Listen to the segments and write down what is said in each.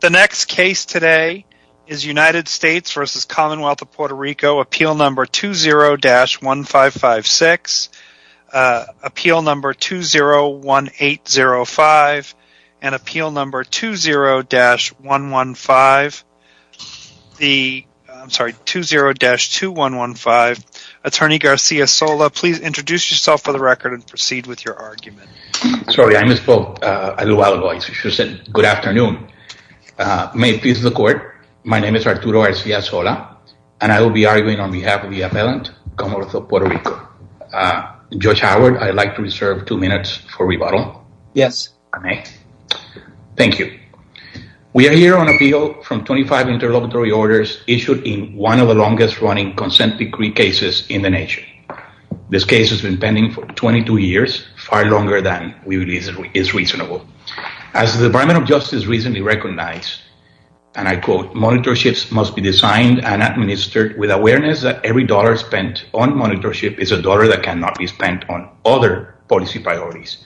The next case today is United States v. Commonwealth of Puerto Rico, Appeal No. 20-1556, Appeal No. 201805, and Appeal No. 20-115, the, I'm sorry, 20-2115. Attorney Garcia-Sola, please introduce yourself for the record and proceed with your argument. Sorry, I misspoke a little while ago. I should have said good afternoon. May it please the court, my name is Arturo Garcia-Sola, and I will be arguing on behalf of the appellant, Commonwealth of Puerto Rico. Judge Howard, I'd like to reserve two minutes for rebuttal. Yes. Thank you. We are here on appeal from 25 interlocutory orders issued in one of the longest-running consent decree cases in the nation. This case has been pending for 22 years, far longer than we believe is reasonable. As the Department of Justice recently recognized, and I quote, monitorships must be designed and administered with awareness that every dollar spent on monitorship is a dollar that cannot be spent on other policy priorities.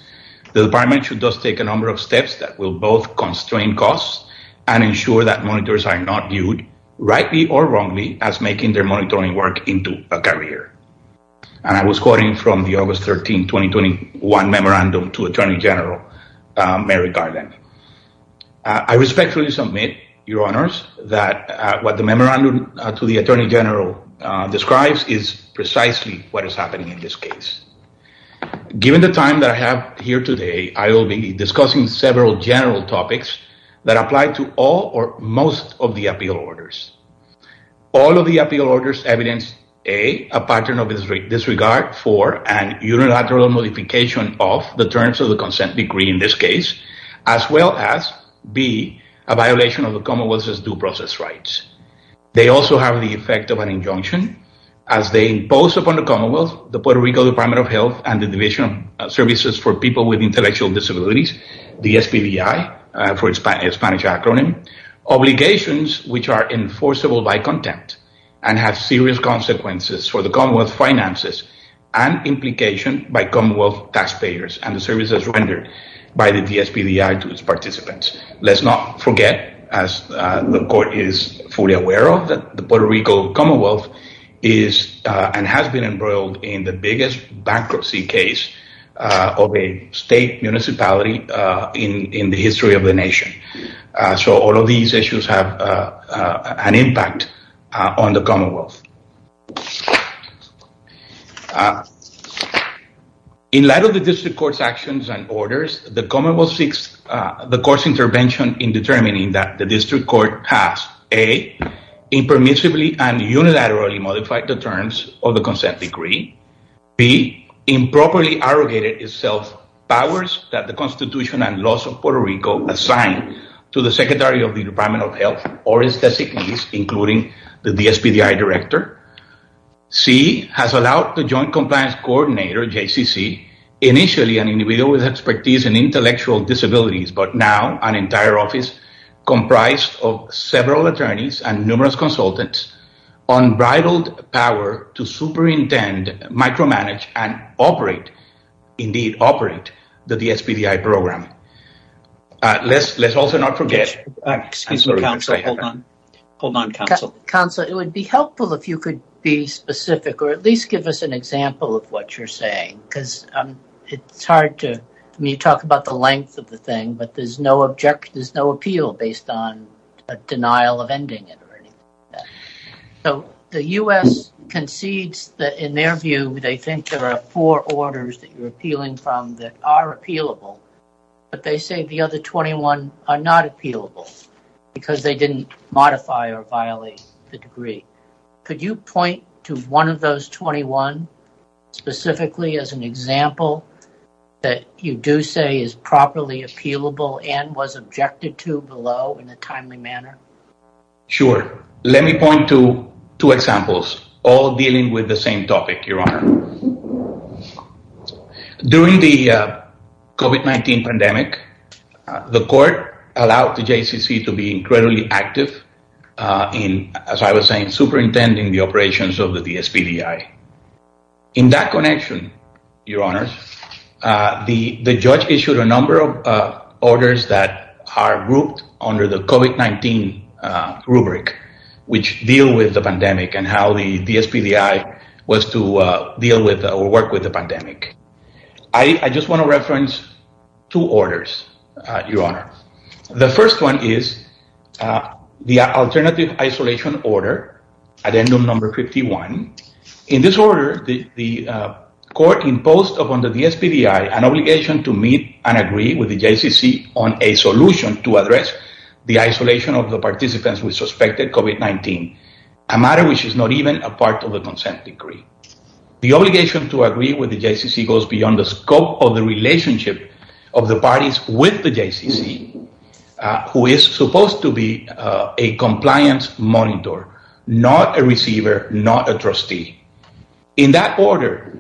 The department should thus take a number of steps that will both constrain costs and ensure that monitors are not viewed, rightly or wrongly, as making their monitoring work into a career. And I was from the August 13, 2021 memorandum to attorney general, Mary Garland. I respectfully submit, your honors, that what the memorandum to the attorney general describes is precisely what is happening in this case. Given the time that I have here today, I will be discussing several general topics that apply to all or most of the appeal orders. All of the appeal orders evidence, A, a pattern of disregard for and unilateral modification of the terms of the consent decree in this case, as well as, B, a violation of the commonwealth's due process rights. They also have the effect of an injunction, as they impose upon the commonwealth, the Puerto Rico Department of Health and the Division of Services for People with Intellectual Disabilities, the SBDI, for its Spanish acronym, obligations which are enforceable by contempt and have serious consequences for the commonwealth finances and implication by commonwealth taxpayers and the services rendered by the SBDI to its participants. Let's not forget, as the court is fully aware of, that the Puerto Rico commonwealth is and has been embroiled in the biggest bankruptcy case of a state municipality in the history of the nation. So all of these issues have an impact on the commonwealth. In light of the district court's actions and orders, the commonwealth seeks the court's intervention in determining that the district court has, A, impermissibly and unilaterally modified the terms of the consent decree, B, improperly arrogated itself powers that and laws of Puerto Rico assigned to the secretary of the Department of Health or its designees, including the SBDI director. C, has allowed the Joint Compliance Coordinator, JCCC, initially an individual with expertise in intellectual disabilities, but now an entire office comprised of several attorneys and numerous consultants, unbridled power to program. It would be helpful if you could be specific or at least give us an example of what you're saying, because it's hard to, when you talk about the length of the thing, but there's no objection, there's no appeal based on a denial of ending it or anything like that. So the U.S. concedes that in their view, they think there are four orders that you're appealing from that are appealable, but they say the other 21 are not appealable because they didn't modify or violate the decree. Could you point to one of those 21 specifically as an example that you do say is properly appealable and was objected to below in a timely manner? Sure. Let me point to two examples, all dealing with the same topic, Your Honor. During the COVID-19 pandemic, the court allowed the JCCC to be incredibly active in, as I was saying, superintending the operations of the SBDI. In that connection, Your Honor, the judge issued a number of orders that are grouped under the COVID-19 rubric, which deal with the pandemic and how the SBDI was to deal with or work with the pandemic. I just want to reference two orders, Your Honor. The first one is the alternative isolation order, addendum number 51. In this order, the court imposed upon the SBDI an obligation to meet and agree with the JCCC on a solution to address the isolation of the participants with suspected COVID-19, a matter which is not even a part of the consent decree. The obligation to agree with the JCCC goes beyond the scope of the relationship of the parties with the JCCC, who is supposed to be a compliance monitor, not a receiver, not a trustee. In that order,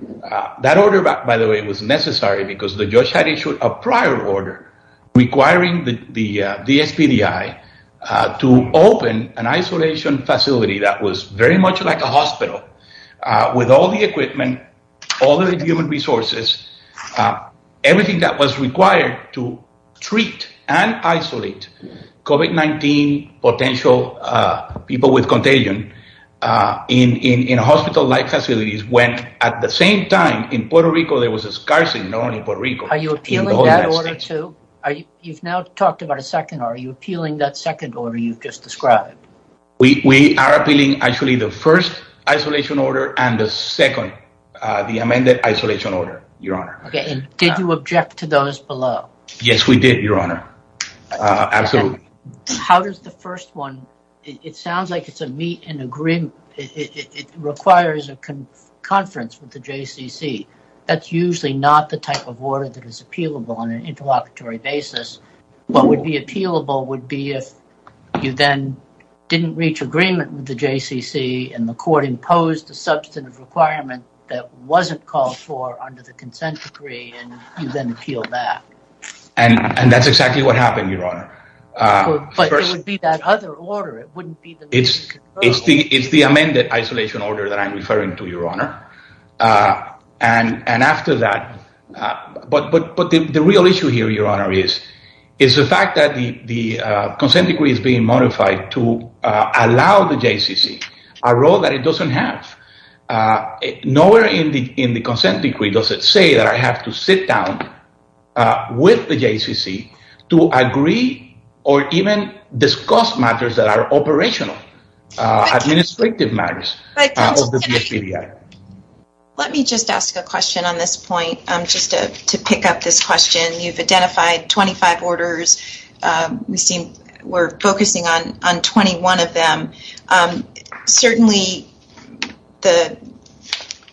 that order, by the way, was necessary because the judge had issued a prior order requiring the SBDI to open an isolation facility that was very much like a hospital with all the equipment, all the human resources, everything that was required to treat and isolate COVID-19 potential people with contagion in hospital-like facilities, when at the same time in Puerto Rico, there was a scarcity known in Puerto Rico. Are you appealing that order too? You've now talked about a second order. Are you appealing that second order you've just described? We are appealing, actually, the first isolation order and the second, the amended isolation order, Your Honor. Did you object to those below? Yes, we did, Your Honor. Absolutely. How does the first one, it sounds like it's a meet and agreement. It requires a conference with the JCCC. That's usually not the type of order that is appealable on an interlocutory basis. What would be appealable would be if you then didn't reach agreement with the JCCC and the court imposed a substantive requirement that wasn't called for under the consent decree and you then appealed that. That's exactly what happened, Your Honor. But it would be that other order. It wouldn't be the meet and converse. It's the amended isolation order that I'm referring to, Your Honor. After that, but the real issue here, Your Honor, is the fact that the consent decree is being modified to allow the JCCC a role that it doesn't have. Nowhere in the consent decree does it say that I have to sit down with the JCCC to agree or even discuss matters that are operational, administrative matters of the JCCC. Let me just ask a question on this point, just to pick up this question. You've identified 25 orders. We're focusing on 21 of them. Certainly, the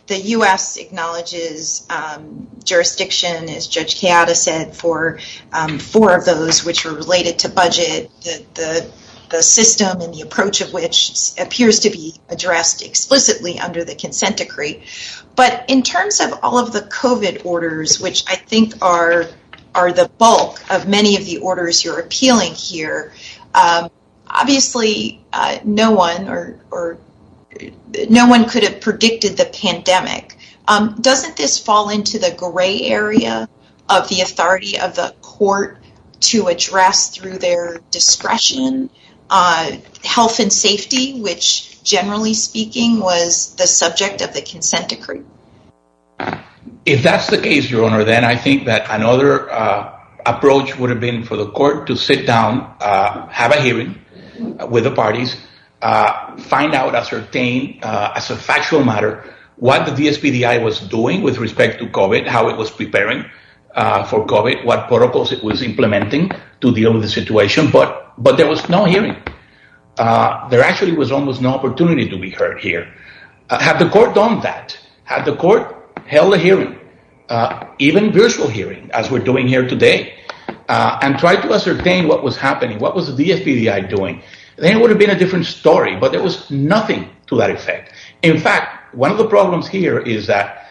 U.S. acknowledges jurisdiction, as Judge Chioda said, for four of those which were related to budget, the system and the approach of which appears to be addressed explicitly under the consent decree. But in terms of all of the COVID orders, which I think are the bulk of many of the orders you're appealing here, obviously, no one could have predicted the pandemic. Doesn't this fall into the gray area of the authority of the court to address through their discretion health and safety, which, generally speaking, was the subject of the consent decree? If that's the case, Your Honor, then I think that another approach would have been for the court to sit down, have a hearing with the parties, find out, ascertain as a factual matter what the DSPDI was doing with respect to COVID, how it was preparing for COVID, what protocols it was implementing to deal with the situation. But there was no hearing. There actually was almost no opportunity to be heard here. Had the court done that, had the court held a hearing, even a virtual hearing, as we're doing here today, and tried to ascertain what was happening, what was the DSPDI doing, then it would have been a different story. But there was nothing to that effect. In fact, one of the problems here is that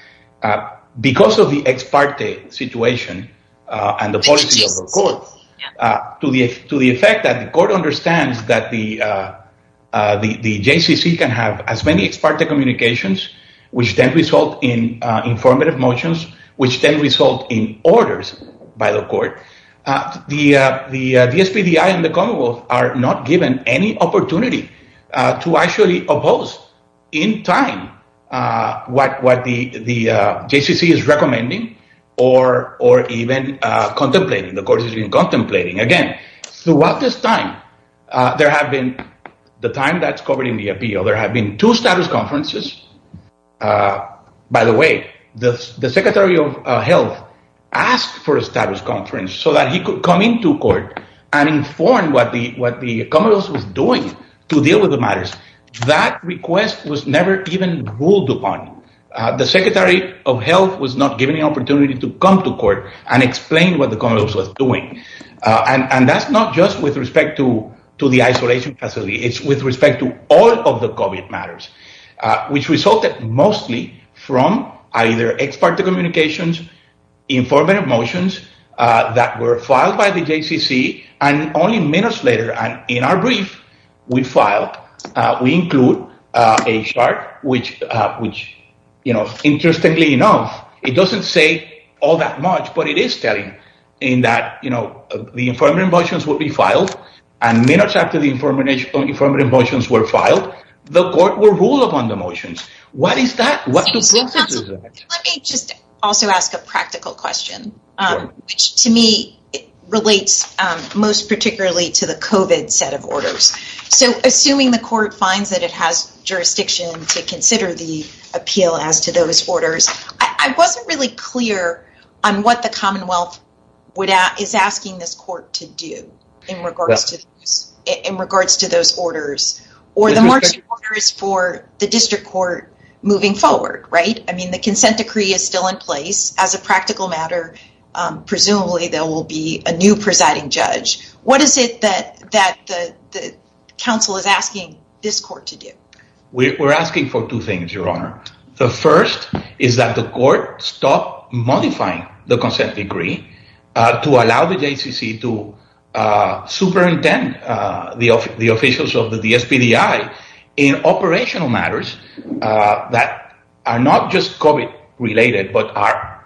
because of the ex parte situation and the policy of the court, to the effect that the court understands that the JCCC can have as many ex parte communications, which then result in informative motions, which then result in orders by the court, the DSPDI and the Commonwealth are not given any contemplating. The court has been contemplating. Again, throughout this time, there have been, the time that's covered in the appeal, there have been two status conferences. By the way, the Secretary of Health asked for a status conference so that he could come into court and inform what the Commonwealth was doing to deal with the matters. That request was never even The Secretary of Health was not given the opportunity to come to court and explain what the Commonwealth was doing. And that's not just with respect to the isolation facility, it's with respect to all of the COVID matters, which resulted mostly from either ex parte communications, informative motions that were filed by the JCCC, and only minutes later, in our brief, we filed, we include a chart, which, you know, interestingly enough, it doesn't say all that much, but it is telling in that, you know, the informative motions will be filed. And minutes after the informative motions were filed, the court will rule upon the motions. What is that? Let me just also ask a practical question, which to me relates most particularly to the COVID set of orders. So assuming the court finds that it has jurisdiction to consider the appeal as to those orders, I wasn't really clear on what the Commonwealth is asking this court to do in regards to those orders, or the marching orders for the district court moving forward, right? I mean, the consent decree is still in place as a practical matter. Presumably, there will be a new presiding judge. What is it that the council is asking this court to do? We're asking for two things, Your Honor. The first is that the court stop modifying the consent decree to allow the JCCC to superintend the officials of the DSPDI in operational matters that are not just COVID related, but are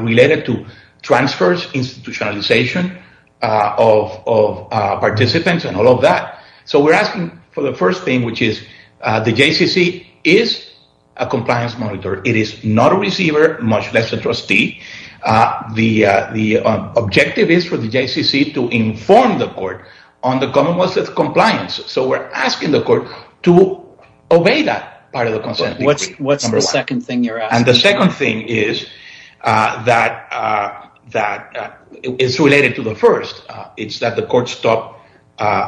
related to transfers, institutionalization of participants and all of that. So we're asking for the first thing, which is the JCCC is a compliance monitor. It is not a receiver, much less a trustee. The objective is for the JCCC to inform the court on the Commonwealth's compliance. So we're asking the court to obey that part of the consent decree. What's the second thing you're asking? The second thing is that it's related to the first. It's that the court stop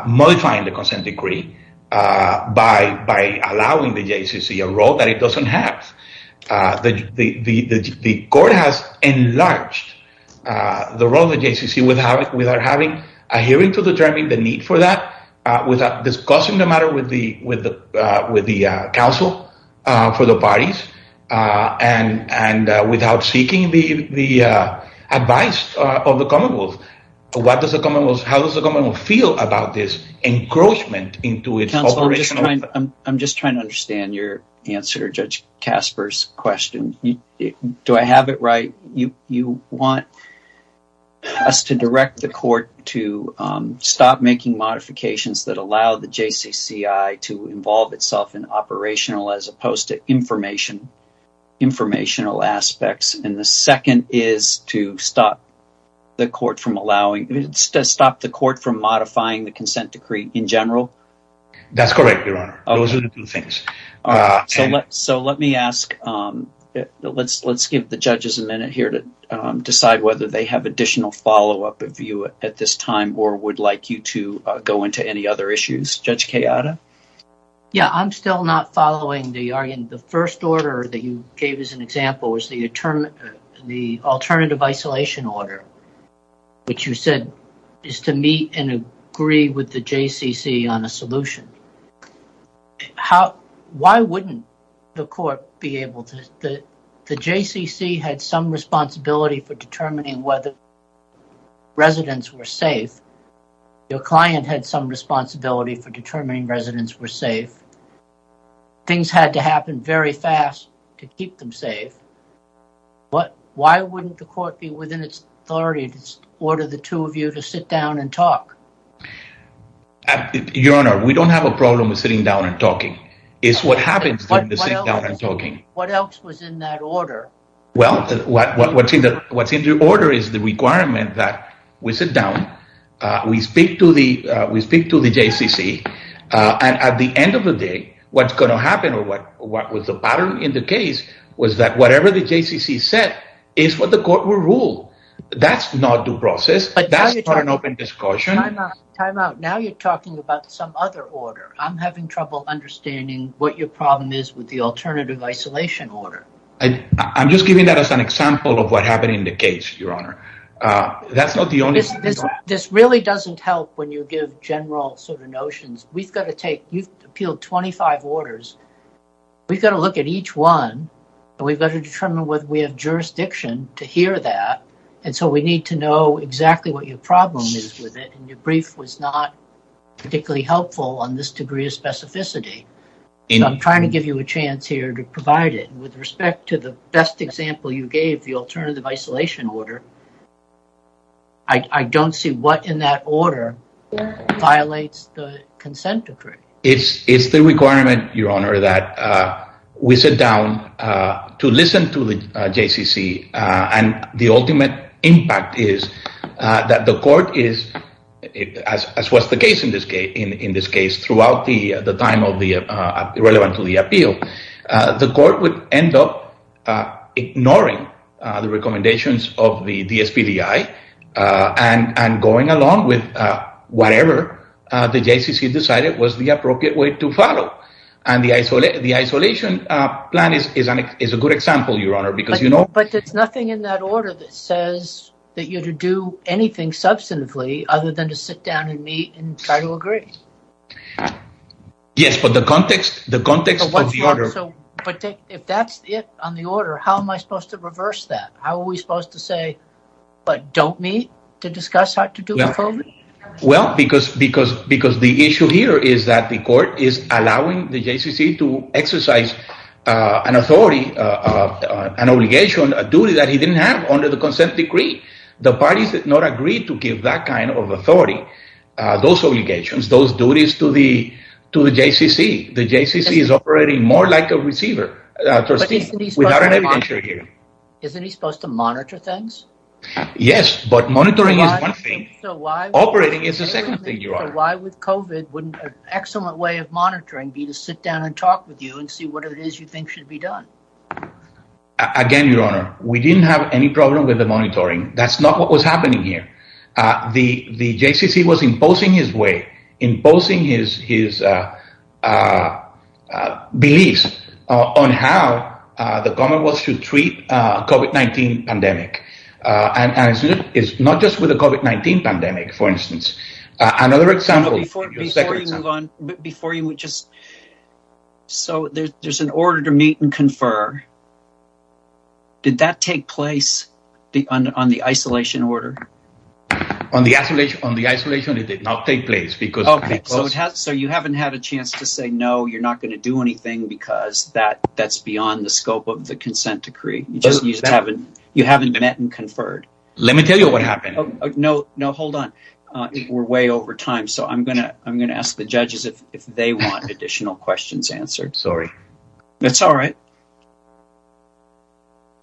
modifying the consent decree by allowing the JCCC a role that it doesn't have. The court has enlarged the role of the JCCC without having a hearing to determine the need for that, without discussing the matter with the council, for the parties, and without seeking the advice of the Commonwealth. How does the Commonwealth feel about this encroachment into its operation? I'm just trying to understand your answer to Judge Casper's question. Do I have it right? You want us to direct the court to stop making modifications that allow the JCCC to involve itself in operational as opposed to informational aspects. And the second is to stop the court from modifying the consent decree in general? That's correct, Your Honor. Those are the two things. All right, so let me ask, let's give the judges a minute here to decide whether they have additional follow-up of you at this time or would like you to go into any other issues. Judge Cayada? Yeah, I'm still not following the argument. The first order that you gave as an example was the alternative isolation order, which you said is to meet and agree with the JCCC on a solution. Why wouldn't the court be able to? The JCCC had some responsibility for determining whether residents were safe. Your client had some responsibility for determining residents were safe. Things had to happen very fast to keep them safe. But why wouldn't the court be within its authority to order the two of you to sit down and talk? Your Honor, we don't have a is what happens. What else was in that order? Well, what's in the order is the requirement that we sit down, we speak to the JCCC, and at the end of the day, what's going to happen or what was the pattern in the case was that whatever the JCCC said is what the court will rule. That's not due process. That's not an open discussion. Time out. Now you're talking about some other order. I'm having trouble understanding what your problem is with the alternative isolation order. I'm just giving that as an example of what happened in the case, Your Honor. That's not the only... This really doesn't help when you give general sort of notions. We've got to take, you've appealed 25 orders. We've got to look at each one, and we've got to determine whether we have jurisdiction to hear that. And so we need to exactly what your problem is with it. And your brief was not particularly helpful on this degree of specificity. I'm trying to give you a chance here to provide it with respect to the best example you gave the alternative isolation order. I don't see what in that order violates the consent decree. It's the requirement, Your Honor, that we sit down to listen to the JCCC. And the that the court is, as was the case in this case, throughout the time of the relevant to the appeal, the court would end up ignoring the recommendations of the DSPDI and going along with whatever the JCCC decided was the appropriate way to follow. And the isolation plan is a good example, Your Honor, because you know... says that you're to do anything substantively other than to sit down and meet and try to agree. Yes, but the context, the context of the order... If that's it on the order, how am I supposed to reverse that? How are we supposed to say, but don't meet to discuss how to do it? Well, because the issue here is that the court is allowing the JCCC to exercise an authority, an obligation, a duty that he didn't have under the consent decree. The parties did not agree to give that kind of authority, those obligations, those duties to the JCCC. The JCCC is operating more like a receiver. Isn't he supposed to monitor things? Yes, but monitoring is one thing. Operating is the second thing, Your Honor. Why with COVID wouldn't an excellent way of monitoring be to sit down and talk with you and see what it is you think should be done? Again, Your Honor, we didn't have any problem with the monitoring. That's not what was happening here. The JCCC was imposing his way, imposing his beliefs on how the Commonwealth should treat COVID-19 pandemic. And it's not just with the COVID-19 pandemic, for instance. Another example... Before you would just... So there's an order to meet and confer. Did that take place on the isolation order? On the isolation, it did not take place because... Okay, so you haven't had a chance to say no, you're not going to do anything because that's beyond the scope of the consent decree. You just haven't met and conferred. Let me tell you what happened. No, hold on. We're way over time. So I'm going to ask the judges if they want additional questions answered. Sorry. That's all right.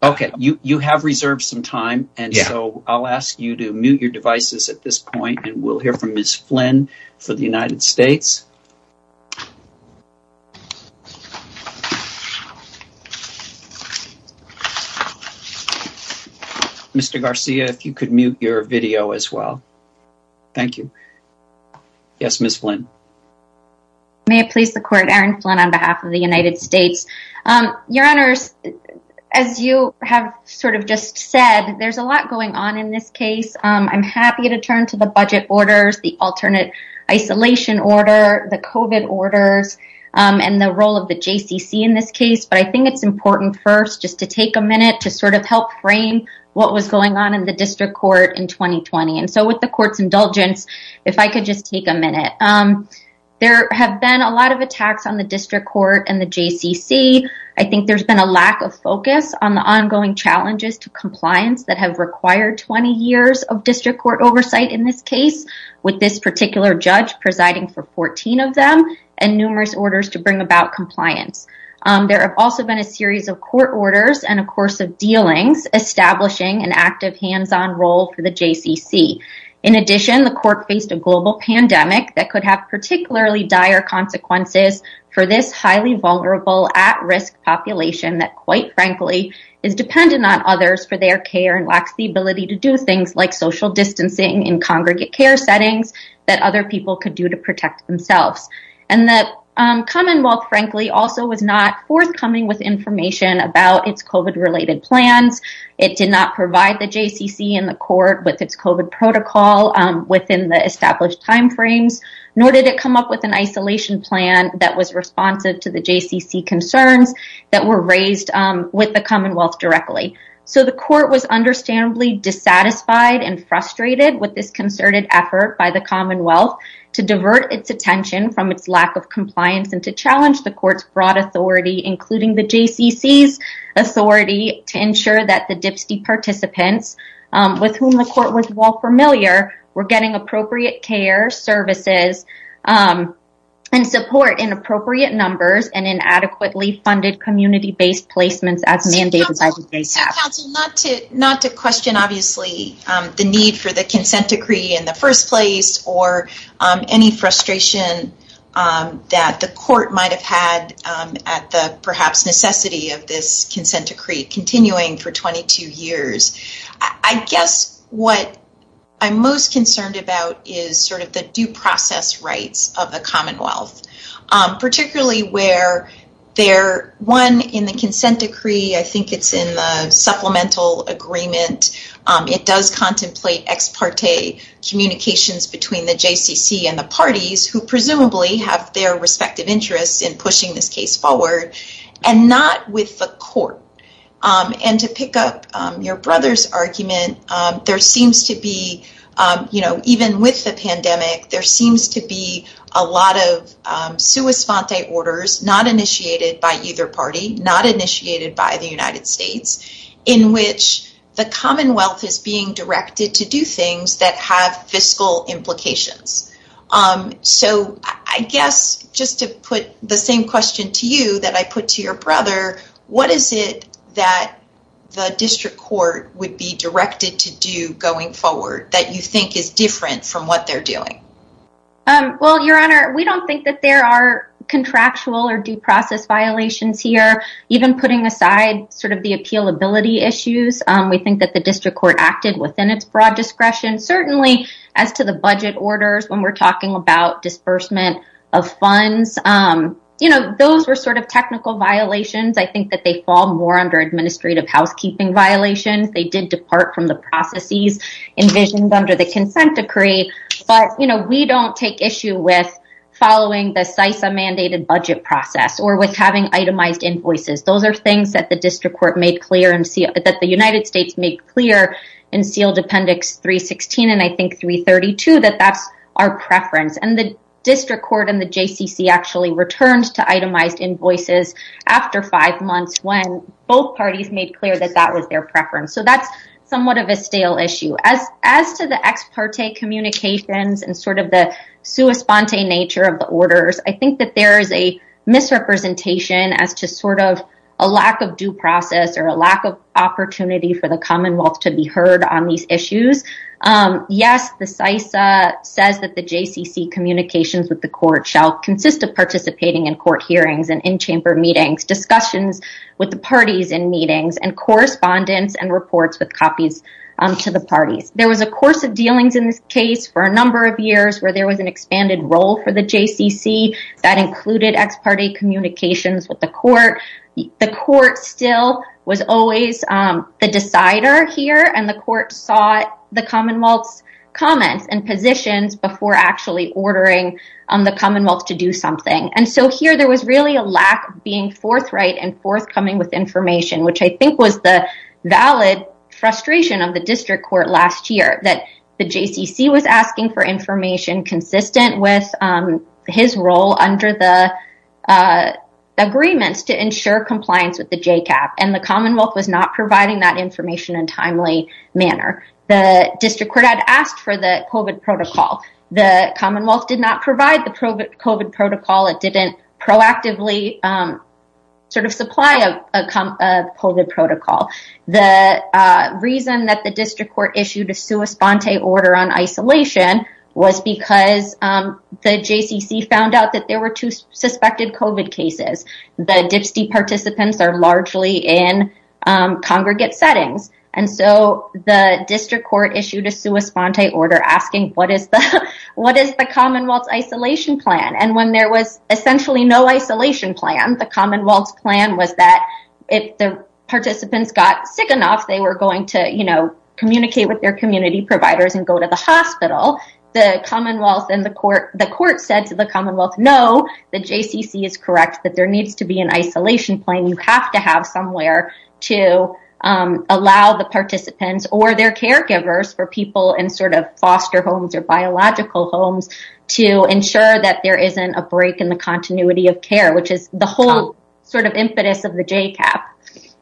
Okay, you have reserved some time. And so I'll ask you to mute your devices at this point and we'll hear from Ms. Flynn for the United States. Mr. Garcia, if you could mute your video as well. Thank you. Yes, Ms. Flynn. May it please the court, Aaron Flynn on behalf of the United States. Your Honors, as you have sort of just said, there's a lot going on in this case. I'm happy to turn to the budget orders, the alternate isolation order, the isolation order, the COVID orders and the role of the JCC in this case. But I think it's important first just to take a minute to sort of help frame what was going on in the district court in 2020. And so with the court's indulgence, if I could just take a minute. There have been a lot of attacks on the district court and the JCC. I think there's been a lack of focus on the ongoing challenges to compliance that have required 20 years of and numerous orders to bring about compliance. There have also been a series of court orders and a course of dealings establishing an active hands-on role for the JCC. In addition, the court faced a global pandemic that could have particularly dire consequences for this highly vulnerable at-risk population that quite frankly is dependent on others for their care and lacks the ability to do things like social distancing in congregate care settings that other people could do to protect themselves. And the commonwealth frankly also was not forthcoming with information about its COVID related plans. It did not provide the JCC in the court with its COVID protocol within the established timeframes, nor did it come up with an isolation plan that was responsive to the JCC concerns that were raised with the commonwealth directly. So the court was understandably dissatisfied and frustrated with this concerted effort by the commonwealth to divert its attention from its lack of compliance and to challenge the court's broad authority including the JCC's authority to ensure that the DPSTE participants with whom the court was well familiar were getting appropriate care, services, and support in appropriate numbers and inadequately funded community-based placements as first place or any frustration that the court might have had at the perhaps necessity of this consent decree continuing for 22 years. I guess what I'm most concerned about is sort of the due process rights of the commonwealth, particularly where there, one in the consent decree, I think it's in the supplemental agreement. It does contemplate ex parte communications between the JCC and the parties who presumably have their respective interests in pushing this case forward and not with the court. And to pick up your brother's argument, there seems to be, you know, even with the pandemic, there seems to be a lot of orders not initiated by either party, not initiated by the United States, in which the commonwealth is being directed to do things that have fiscal implications. So I guess just to put the same question to you that I put to your brother, what is it that the district court would be directed to do going forward that you think is different from what they're doing? Well, your honor, we don't think that there are contractual or due process violations here, even putting aside sort of the appealability issues. We think that the district court acted within its broad discretion, certainly as to the budget orders when we're talking about disbursement of funds. You know, those were sort of technical violations. I think that they fall more under administrative housekeeping violations. They did depart from the processes envisioned under the consent decree. But you know, we don't take issue with following the CISA mandated budget process or with having itemized invoices. Those are things that the district court made clear and see that the United States made clear in sealed appendix 316. And I think 332, that that's our preference. And the district court and the JCC actually returned to itemized invoices after five months when both parties made clear that that was their preference. So that's somewhat of a stale issue. As to the ex parte communications and sort of the sua sponte nature of the orders, I think that there is a misrepresentation as to sort of a lack of due process or a lack of opportunity for the Commonwealth to be heard on these issues. Yes, the CISA says that the JCC communications with the court shall consist of participating in court hearings and in chamber meetings, discussions with the parties in meetings and correspondence and reports with copies to the parties. There was a course of dealings in this case for a number of years where there was an expanded role for the JCC that included ex parte communications with the court. The court still was always the decider here and the court sought the Commonwealth's comments and positions before actually ordering the Commonwealth to do something. And so here there was really a lack of being forthright and forthcoming with information, which I think was the valid frustration of the district court last year that the JCC was asking for information consistent with his role under the agreements to ensure compliance with the JCAP. And the Commonwealth was not providing that information in a timely manner. The district court had asked for the COVID protocol. The Commonwealth did not provide the COVID protocol. It didn't proactively sort of supply a COVID protocol. The reason that the district court issued a sua sponte order on isolation was because the JCC found out that there were two suspected COVID cases. The DHPSY participants are largely in congregate settings. And so the district court issued a sua sponte order asking what is the Commonwealth's isolation plan? And when there essentially no isolation plan, the Commonwealth's plan was that if the participants got sick enough, they were going to communicate with their community providers and go to the hospital. The Commonwealth and the court, the court said to the Commonwealth, no, the JCC is correct, that there needs to be an isolation plan. You have to have somewhere to allow the participants or their caregivers for people in sort of foster homes or biological homes to ensure that there isn't a break in the continuity of care, which is the whole sort of impetus of the JCAP.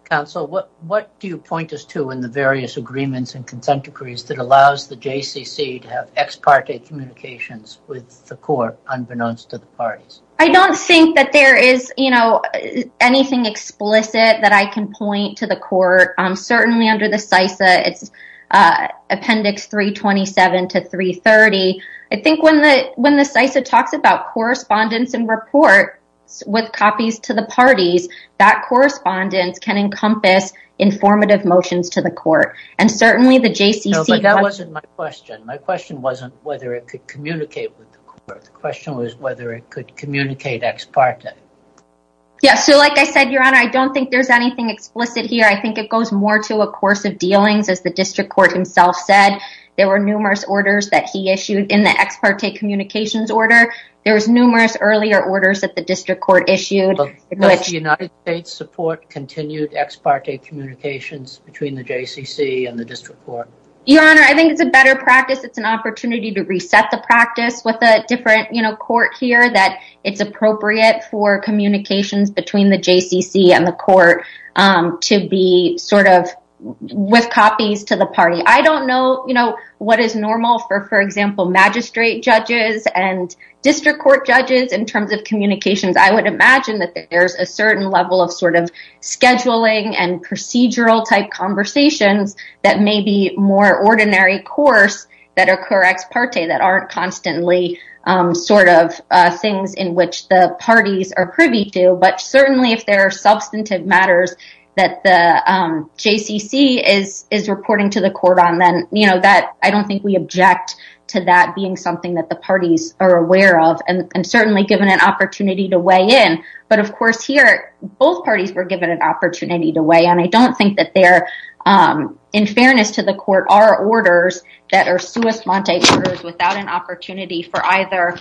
Counsel, what what do you point us to in the various agreements and consent decrees that allows the JCC to have ex parte communications with the court unbeknownst to the parties? I don't think that there is, you know, anything explicit that I can point to the court. Certainly under the CISA, it's appendix 327 to 330. I think when the when the CISA talks about correspondence and report with copies to the parties, that correspondence can encompass informative motions to the court. And certainly the JCC wasn't my question. My question wasn't whether it could communicate with the question was whether it could communicate ex parte. Yeah. So like I said, Your Honor, I don't think there's anything explicit here. I think it goes more to a course of dealings. As the district court himself said, there were numerous orders that he issued in the ex parte communications order. There was numerous earlier orders that the district court issued. Does the United States support continued ex parte communications between the JCC and the district court? Your Honor, I think it's a better practice. It's an opportunity to reset the practice with a different, you know, court here that it's appropriate for communications between the JCC and the court to be sort of with copies to the party. I don't know, you know, what is normal for, for example, magistrate judges and district court judges in terms of communications. I would imagine that there's a certain level of sort of scheduling and procedural type conversations that may be more ordinary course that are ex parte that aren't constantly sort of things in which the parties are privy to. But certainly, if there are substantive matters that the JCC is is reporting to the court on then, you know, that I don't think we object to that being something that the parties are aware of and certainly given an opportunity to weigh in. But of course, here, both parties were given an opportunity to weigh and I don't think that they're in fairness to the court are orders that are suus mante orders without an opportunity for either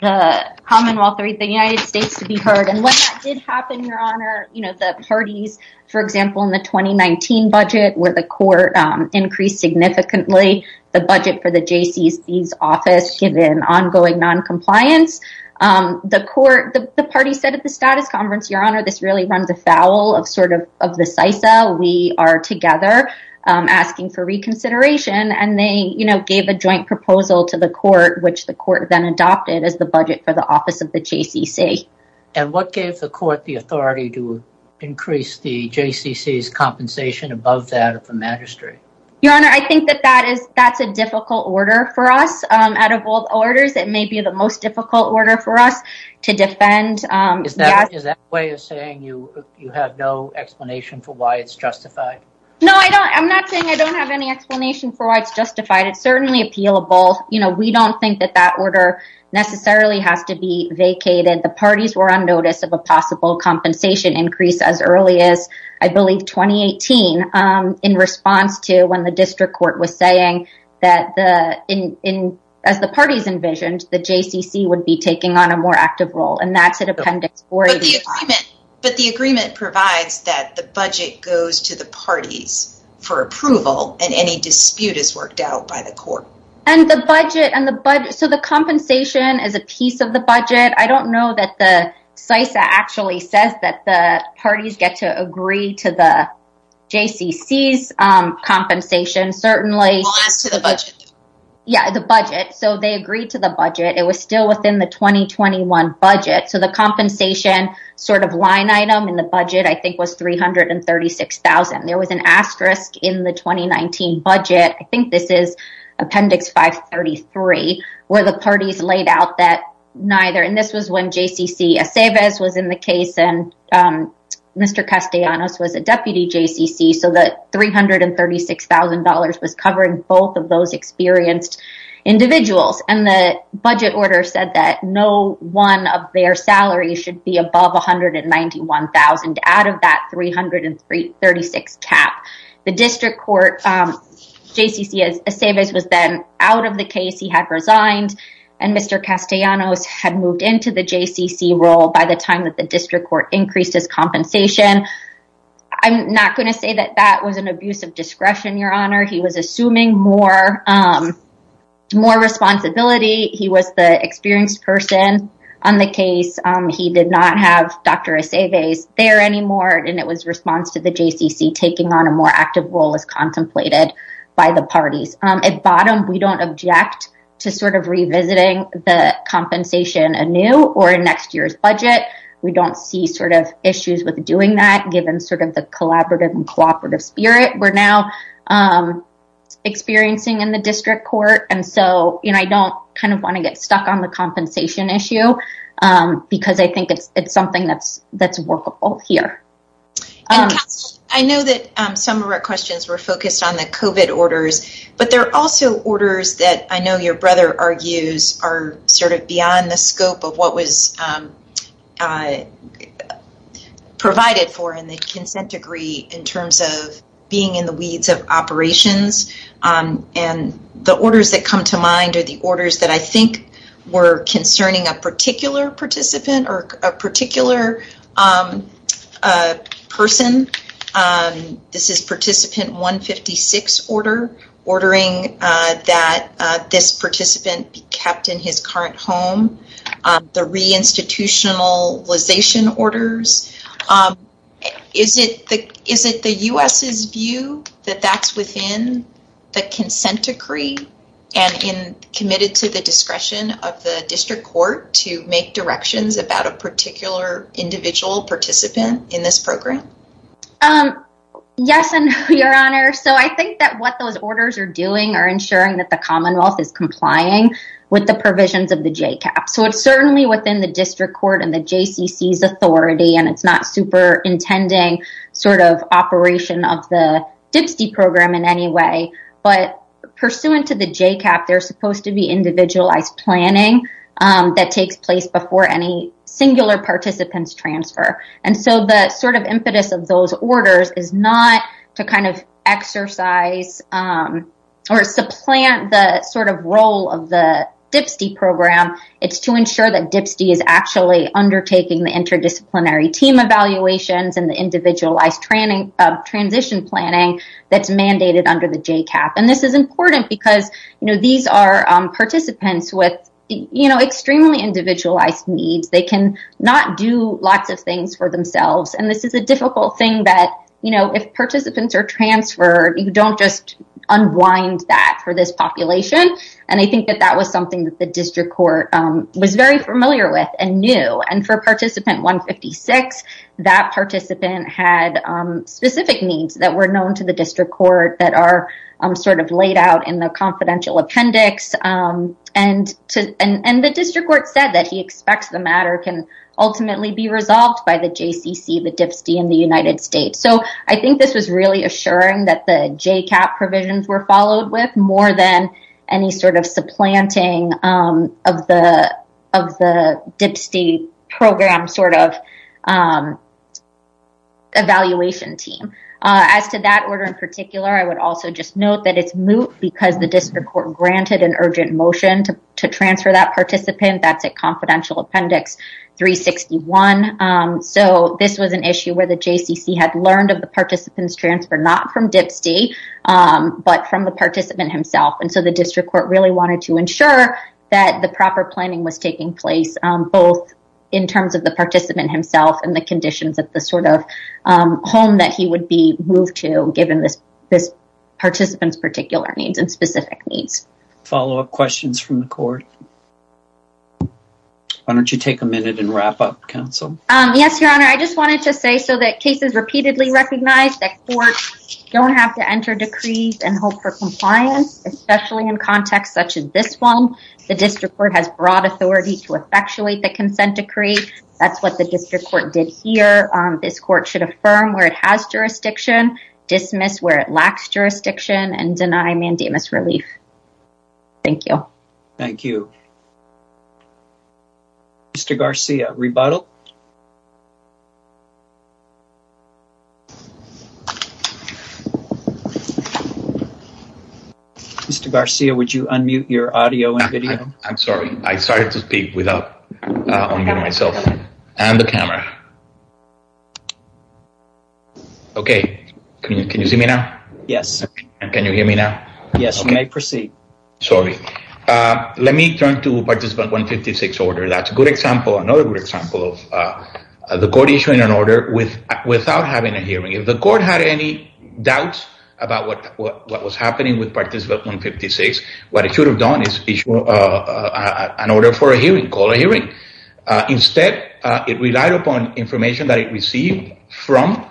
the Commonwealth or the United States to be heard and what did happen, Your Honor, you know, the parties, for example, in the 2019 budget where the court increased significantly the budget for the JCC's office given ongoing non-compliance. The court, the party said at the status conference, Your Honor, this really runs a foul of sort of the CISA. We are together asking for reconsideration and they, you know, gave a joint proposal to the court, which the court then adopted as the budget for the office of the JCC. And what gave the court the authority to increase the JCC's compensation above that of the magistrate? Your Honor, I think that that is that's a difficult order for us. Out of all orders, it may be the most difficult order for us to defend. Is that a way of saying you have no explanation for why it's justified? No, I don't. I'm not saying I don't have any explanation for why it's justified. It's certainly appealable. You know, we don't think that that order necessarily has to be vacated. The parties were on notice of a possible compensation increase as early as I believe 2018 in response to when the district court was saying that as the parties envisioned, the JCC would be taking on a more active role. And that's an appendix for the agreement. But the agreement provides that the budget goes to the parties for approval and any dispute is worked out by the court. And the budget and the budget. So the compensation is a piece of the to the JCC's compensation, certainly to the budget. Yeah, the budget. So they agreed to the budget. It was still within the 2021 budget. So the compensation sort of line item in the budget, I think was $336,000. There was an asterisk in the 2019 budget. I think this is appendix 533, where the parties laid out that neither and this was when JCC Aceves was in the case and Mr. Castellanos was a deputy JCC. So the $336,000 was covering both of those experienced individuals and the budget order said that no one of their salary should be above $191,000 out of that $336,000 cap. The district court JCC Aceves was then out of the case he had resigned and Mr. Castellanos had moved into the JCC role by the time that the district court increased his compensation. I'm not going to say that that was an abuse of discretion, Your Honor, he was assuming more responsibility. He was the experienced person on the case. He did not have Dr. Aceves there anymore. And it was response to the JCC taking on a more active role as contemplated by the parties. At bottom, we don't object to sort of revisiting the compensation anew or in next year's budget. We don't see sort of issues with doing that given sort of the collaborative and cooperative spirit we're now experiencing in the district court. And so you know, I don't kind of want to get stuck on the compensation issue. Because I think it's something that's here. I know that some of our questions were focused on the COVID orders. But there are also orders that I know your brother argues are sort of beyond the scope of what was provided for in the consent degree in terms of being in the weeds of operations. And the orders that come to mind are the orders that I think were concerning a particular participant or a particular person. This is participant 156 order, ordering that this participant be kept in his current home, the reinstitutionalization orders. Is it the U.S.'s view that that's within the consent decree and in committed to the discretion of the district court to make directions about a particular individual participant in this program? Yes and no, Your Honor. So I think that what those orders are doing are ensuring that the Commonwealth is complying with the provisions of the JCAP. So it's certainly within the district court and the JCCC's authority. And it's not super intending sort of operation of the DPSTE program in any way. But pursuant to the JCAP, there's supposed to be individualized planning that takes place before any singular participants transfer. And so the sort of impetus of those orders is not to kind of exercise or supplant the sort of role of the DPSTE program. It's to ensure that DPSTE is actually undertaking the interdisciplinary team evaluations and the individualized training of transition planning that's mandated under the JCAP. And this is participants with extremely individualized needs. They can not do lots of things for themselves. And this is a difficult thing that if participants are transferred, you don't just unwind that for this population. And I think that that was something that the district court was very familiar with and knew. And for participant 156, that participant had specific needs that were laid out in the confidential appendix. And the district court said that he expects the matter can ultimately be resolved by the JCCC, the DPSTE in the United States. So I think this was really assuring that the JCAP provisions were followed with more than any sort of supplanting of the DPSTE program sort of evaluation team. As to that order in particular, I would also just note that it's moot because the district court granted an urgent motion to transfer that participant. That's a confidential appendix 361. So this was an issue where the JCCC had learned of the participants transfer not from DPSTE, but from the participant himself. And so the district court really wanted to ensure that the proper planning was taking place, both in terms of the participant himself and the conditions of the sort of home that he would be moved to given this participant's particular needs and specific needs. Follow-up questions from the court? Why don't you take a minute and wrap up, counsel? Yes, your honor. I just wanted to say so that cases repeatedly recognized that courts don't have to enter decrees and hope for compliance, especially in contexts such as this one. The district court has broad authority to effectuate the consent decree. That's what the district court did here. This court should affirm where it has jurisdiction, dismiss where it lacks jurisdiction, and deny mandamus relief. Thank you. Thank you. Mr. Garcia, rebuttal? Mr. Garcia, would you unmute your audio and video? I'm sorry. I started to speak without unmuting myself and the camera. Okay. Can you see me now? Yes. Can you hear me now? Yes, you may proceed. Sorry. Let me turn to participant 156 order. That's a good example, another good example of the court issuing an order without having a hearing. If the court had any doubts about what was happening with participant 156, what it should have done is issue an order for a hearing, call a hearing. Instead, it relied upon information that it received from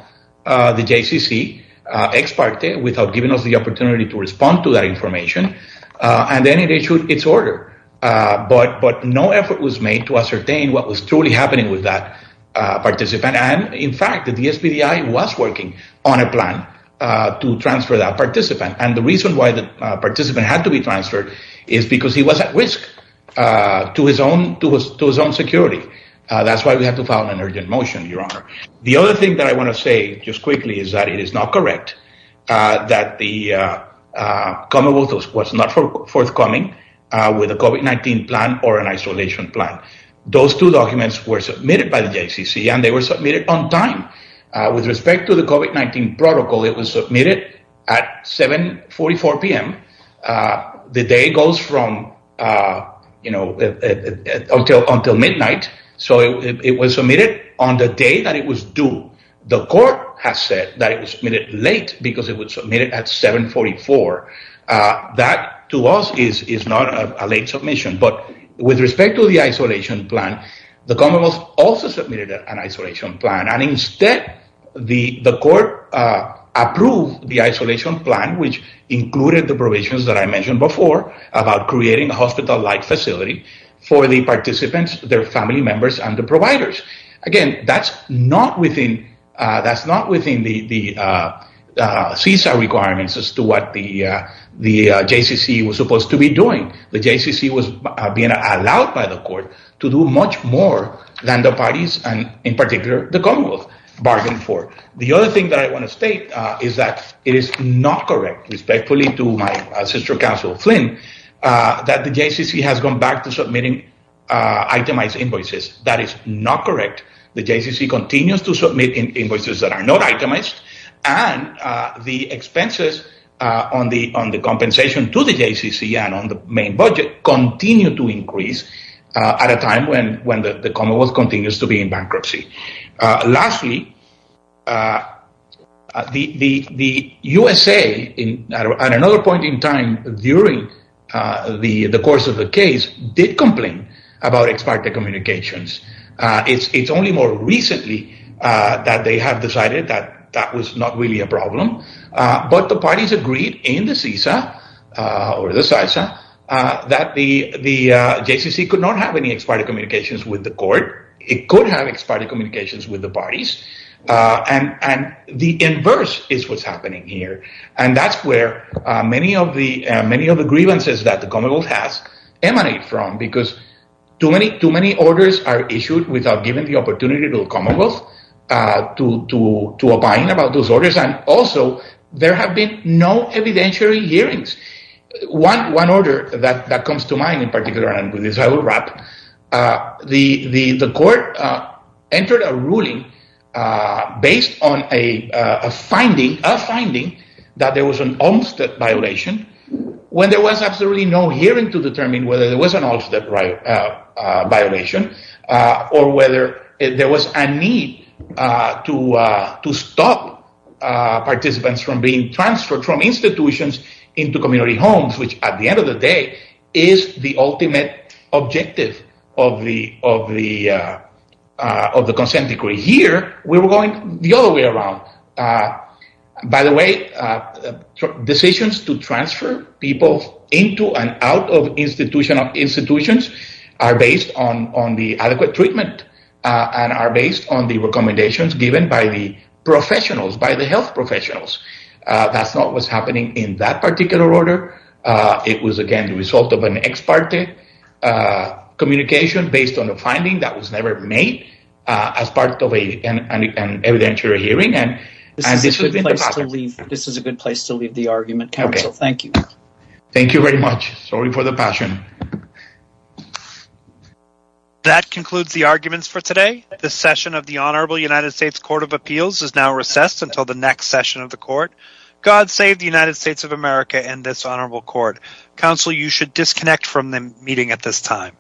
the JCCC ex parte without giving us the opportunity to respond to that information, and then it issued its order. But no effort was made to ascertain what was truly happening with that participant. And in fact, the DSBDI was working on a plan to transfer that participant. And the reason why the participant had to be transferred is because he was at risk to his own security. That's why we have to file an urgent motion, your honor. The other thing that I want to say just quickly is that it is not correct that the Commonwealth was not forthcoming with a COVID-19 plan or an isolation plan. Those two protocols, it was submitted at 7.44 p.m. The day goes from, you know, until midnight. So it was submitted on the day that it was due. The court has said that it was submitted late because it was submitted at 7.44. That to us is not a late submission. But with respect to the isolation plan, the Commonwealth also submitted an isolation plan. And instead, the court approved the isolation plan, which included the provisions that I mentioned before about creating a hospital-like facility for the participants, their family members, and the providers. Again, that's not within the CISA requirements as to what the JCCC was supposed to be doing. The JCCC was being allowed by the court to do much more than the parties and in particular the Commonwealth bargained for. The other thing that I want to state is that it is not correct, respectfully to my sister counsel Flynn, that the JCCC has gone back to submitting itemized invoices. That is not correct. The JCCC continues to submit invoices that are not itemized. And the expenses on the increase at a time when the Commonwealth continues to be in bankruptcy. Lastly, the USA at another point in time during the course of the case did complain about expired communications. It's only more recently that they have decided that that was not really a problem. But the parties agreed in the CISA that the JCCC could not have any expired communications with the court. It could have expired communications with the parties. And the inverse is what's happening here. And that's where many of the grievances that the Commonwealth has emanated from because too many orders are issued without giving the opportunity to the Commonwealth to opine about those orders. And also, there have been no evidentiary hearings. One order that comes to mind in particular, and I will wrap, the court entered a ruling based on a finding that there was an Olmstead violation when there was absolutely no hearing to determine whether there was an Olmstead violation or whether there was a need to stop participants from being transferred from institutions into community homes, which at the end of the day is the ultimate objective of the consent decree. Here, we were going the other way around. By the way, decisions to transfer people into and out of institutional institutions are based on the adequate treatment and are based on the recommendations given by the professionals, by the health professionals. That's not what's happening in that particular order. It was, again, the result of an ex parte communication based on a finding that was made as part of an evidentiary hearing. This is a good place to leave the argument, counsel. Thank you. Thank you very much. Sorry for the passion. That concludes the arguments for today. The session of the Honorable United States Court of Appeals is now recessed until the next session of the court. God save the United States of America and this honorable court. Counsel, you should disconnect from the meeting at this time.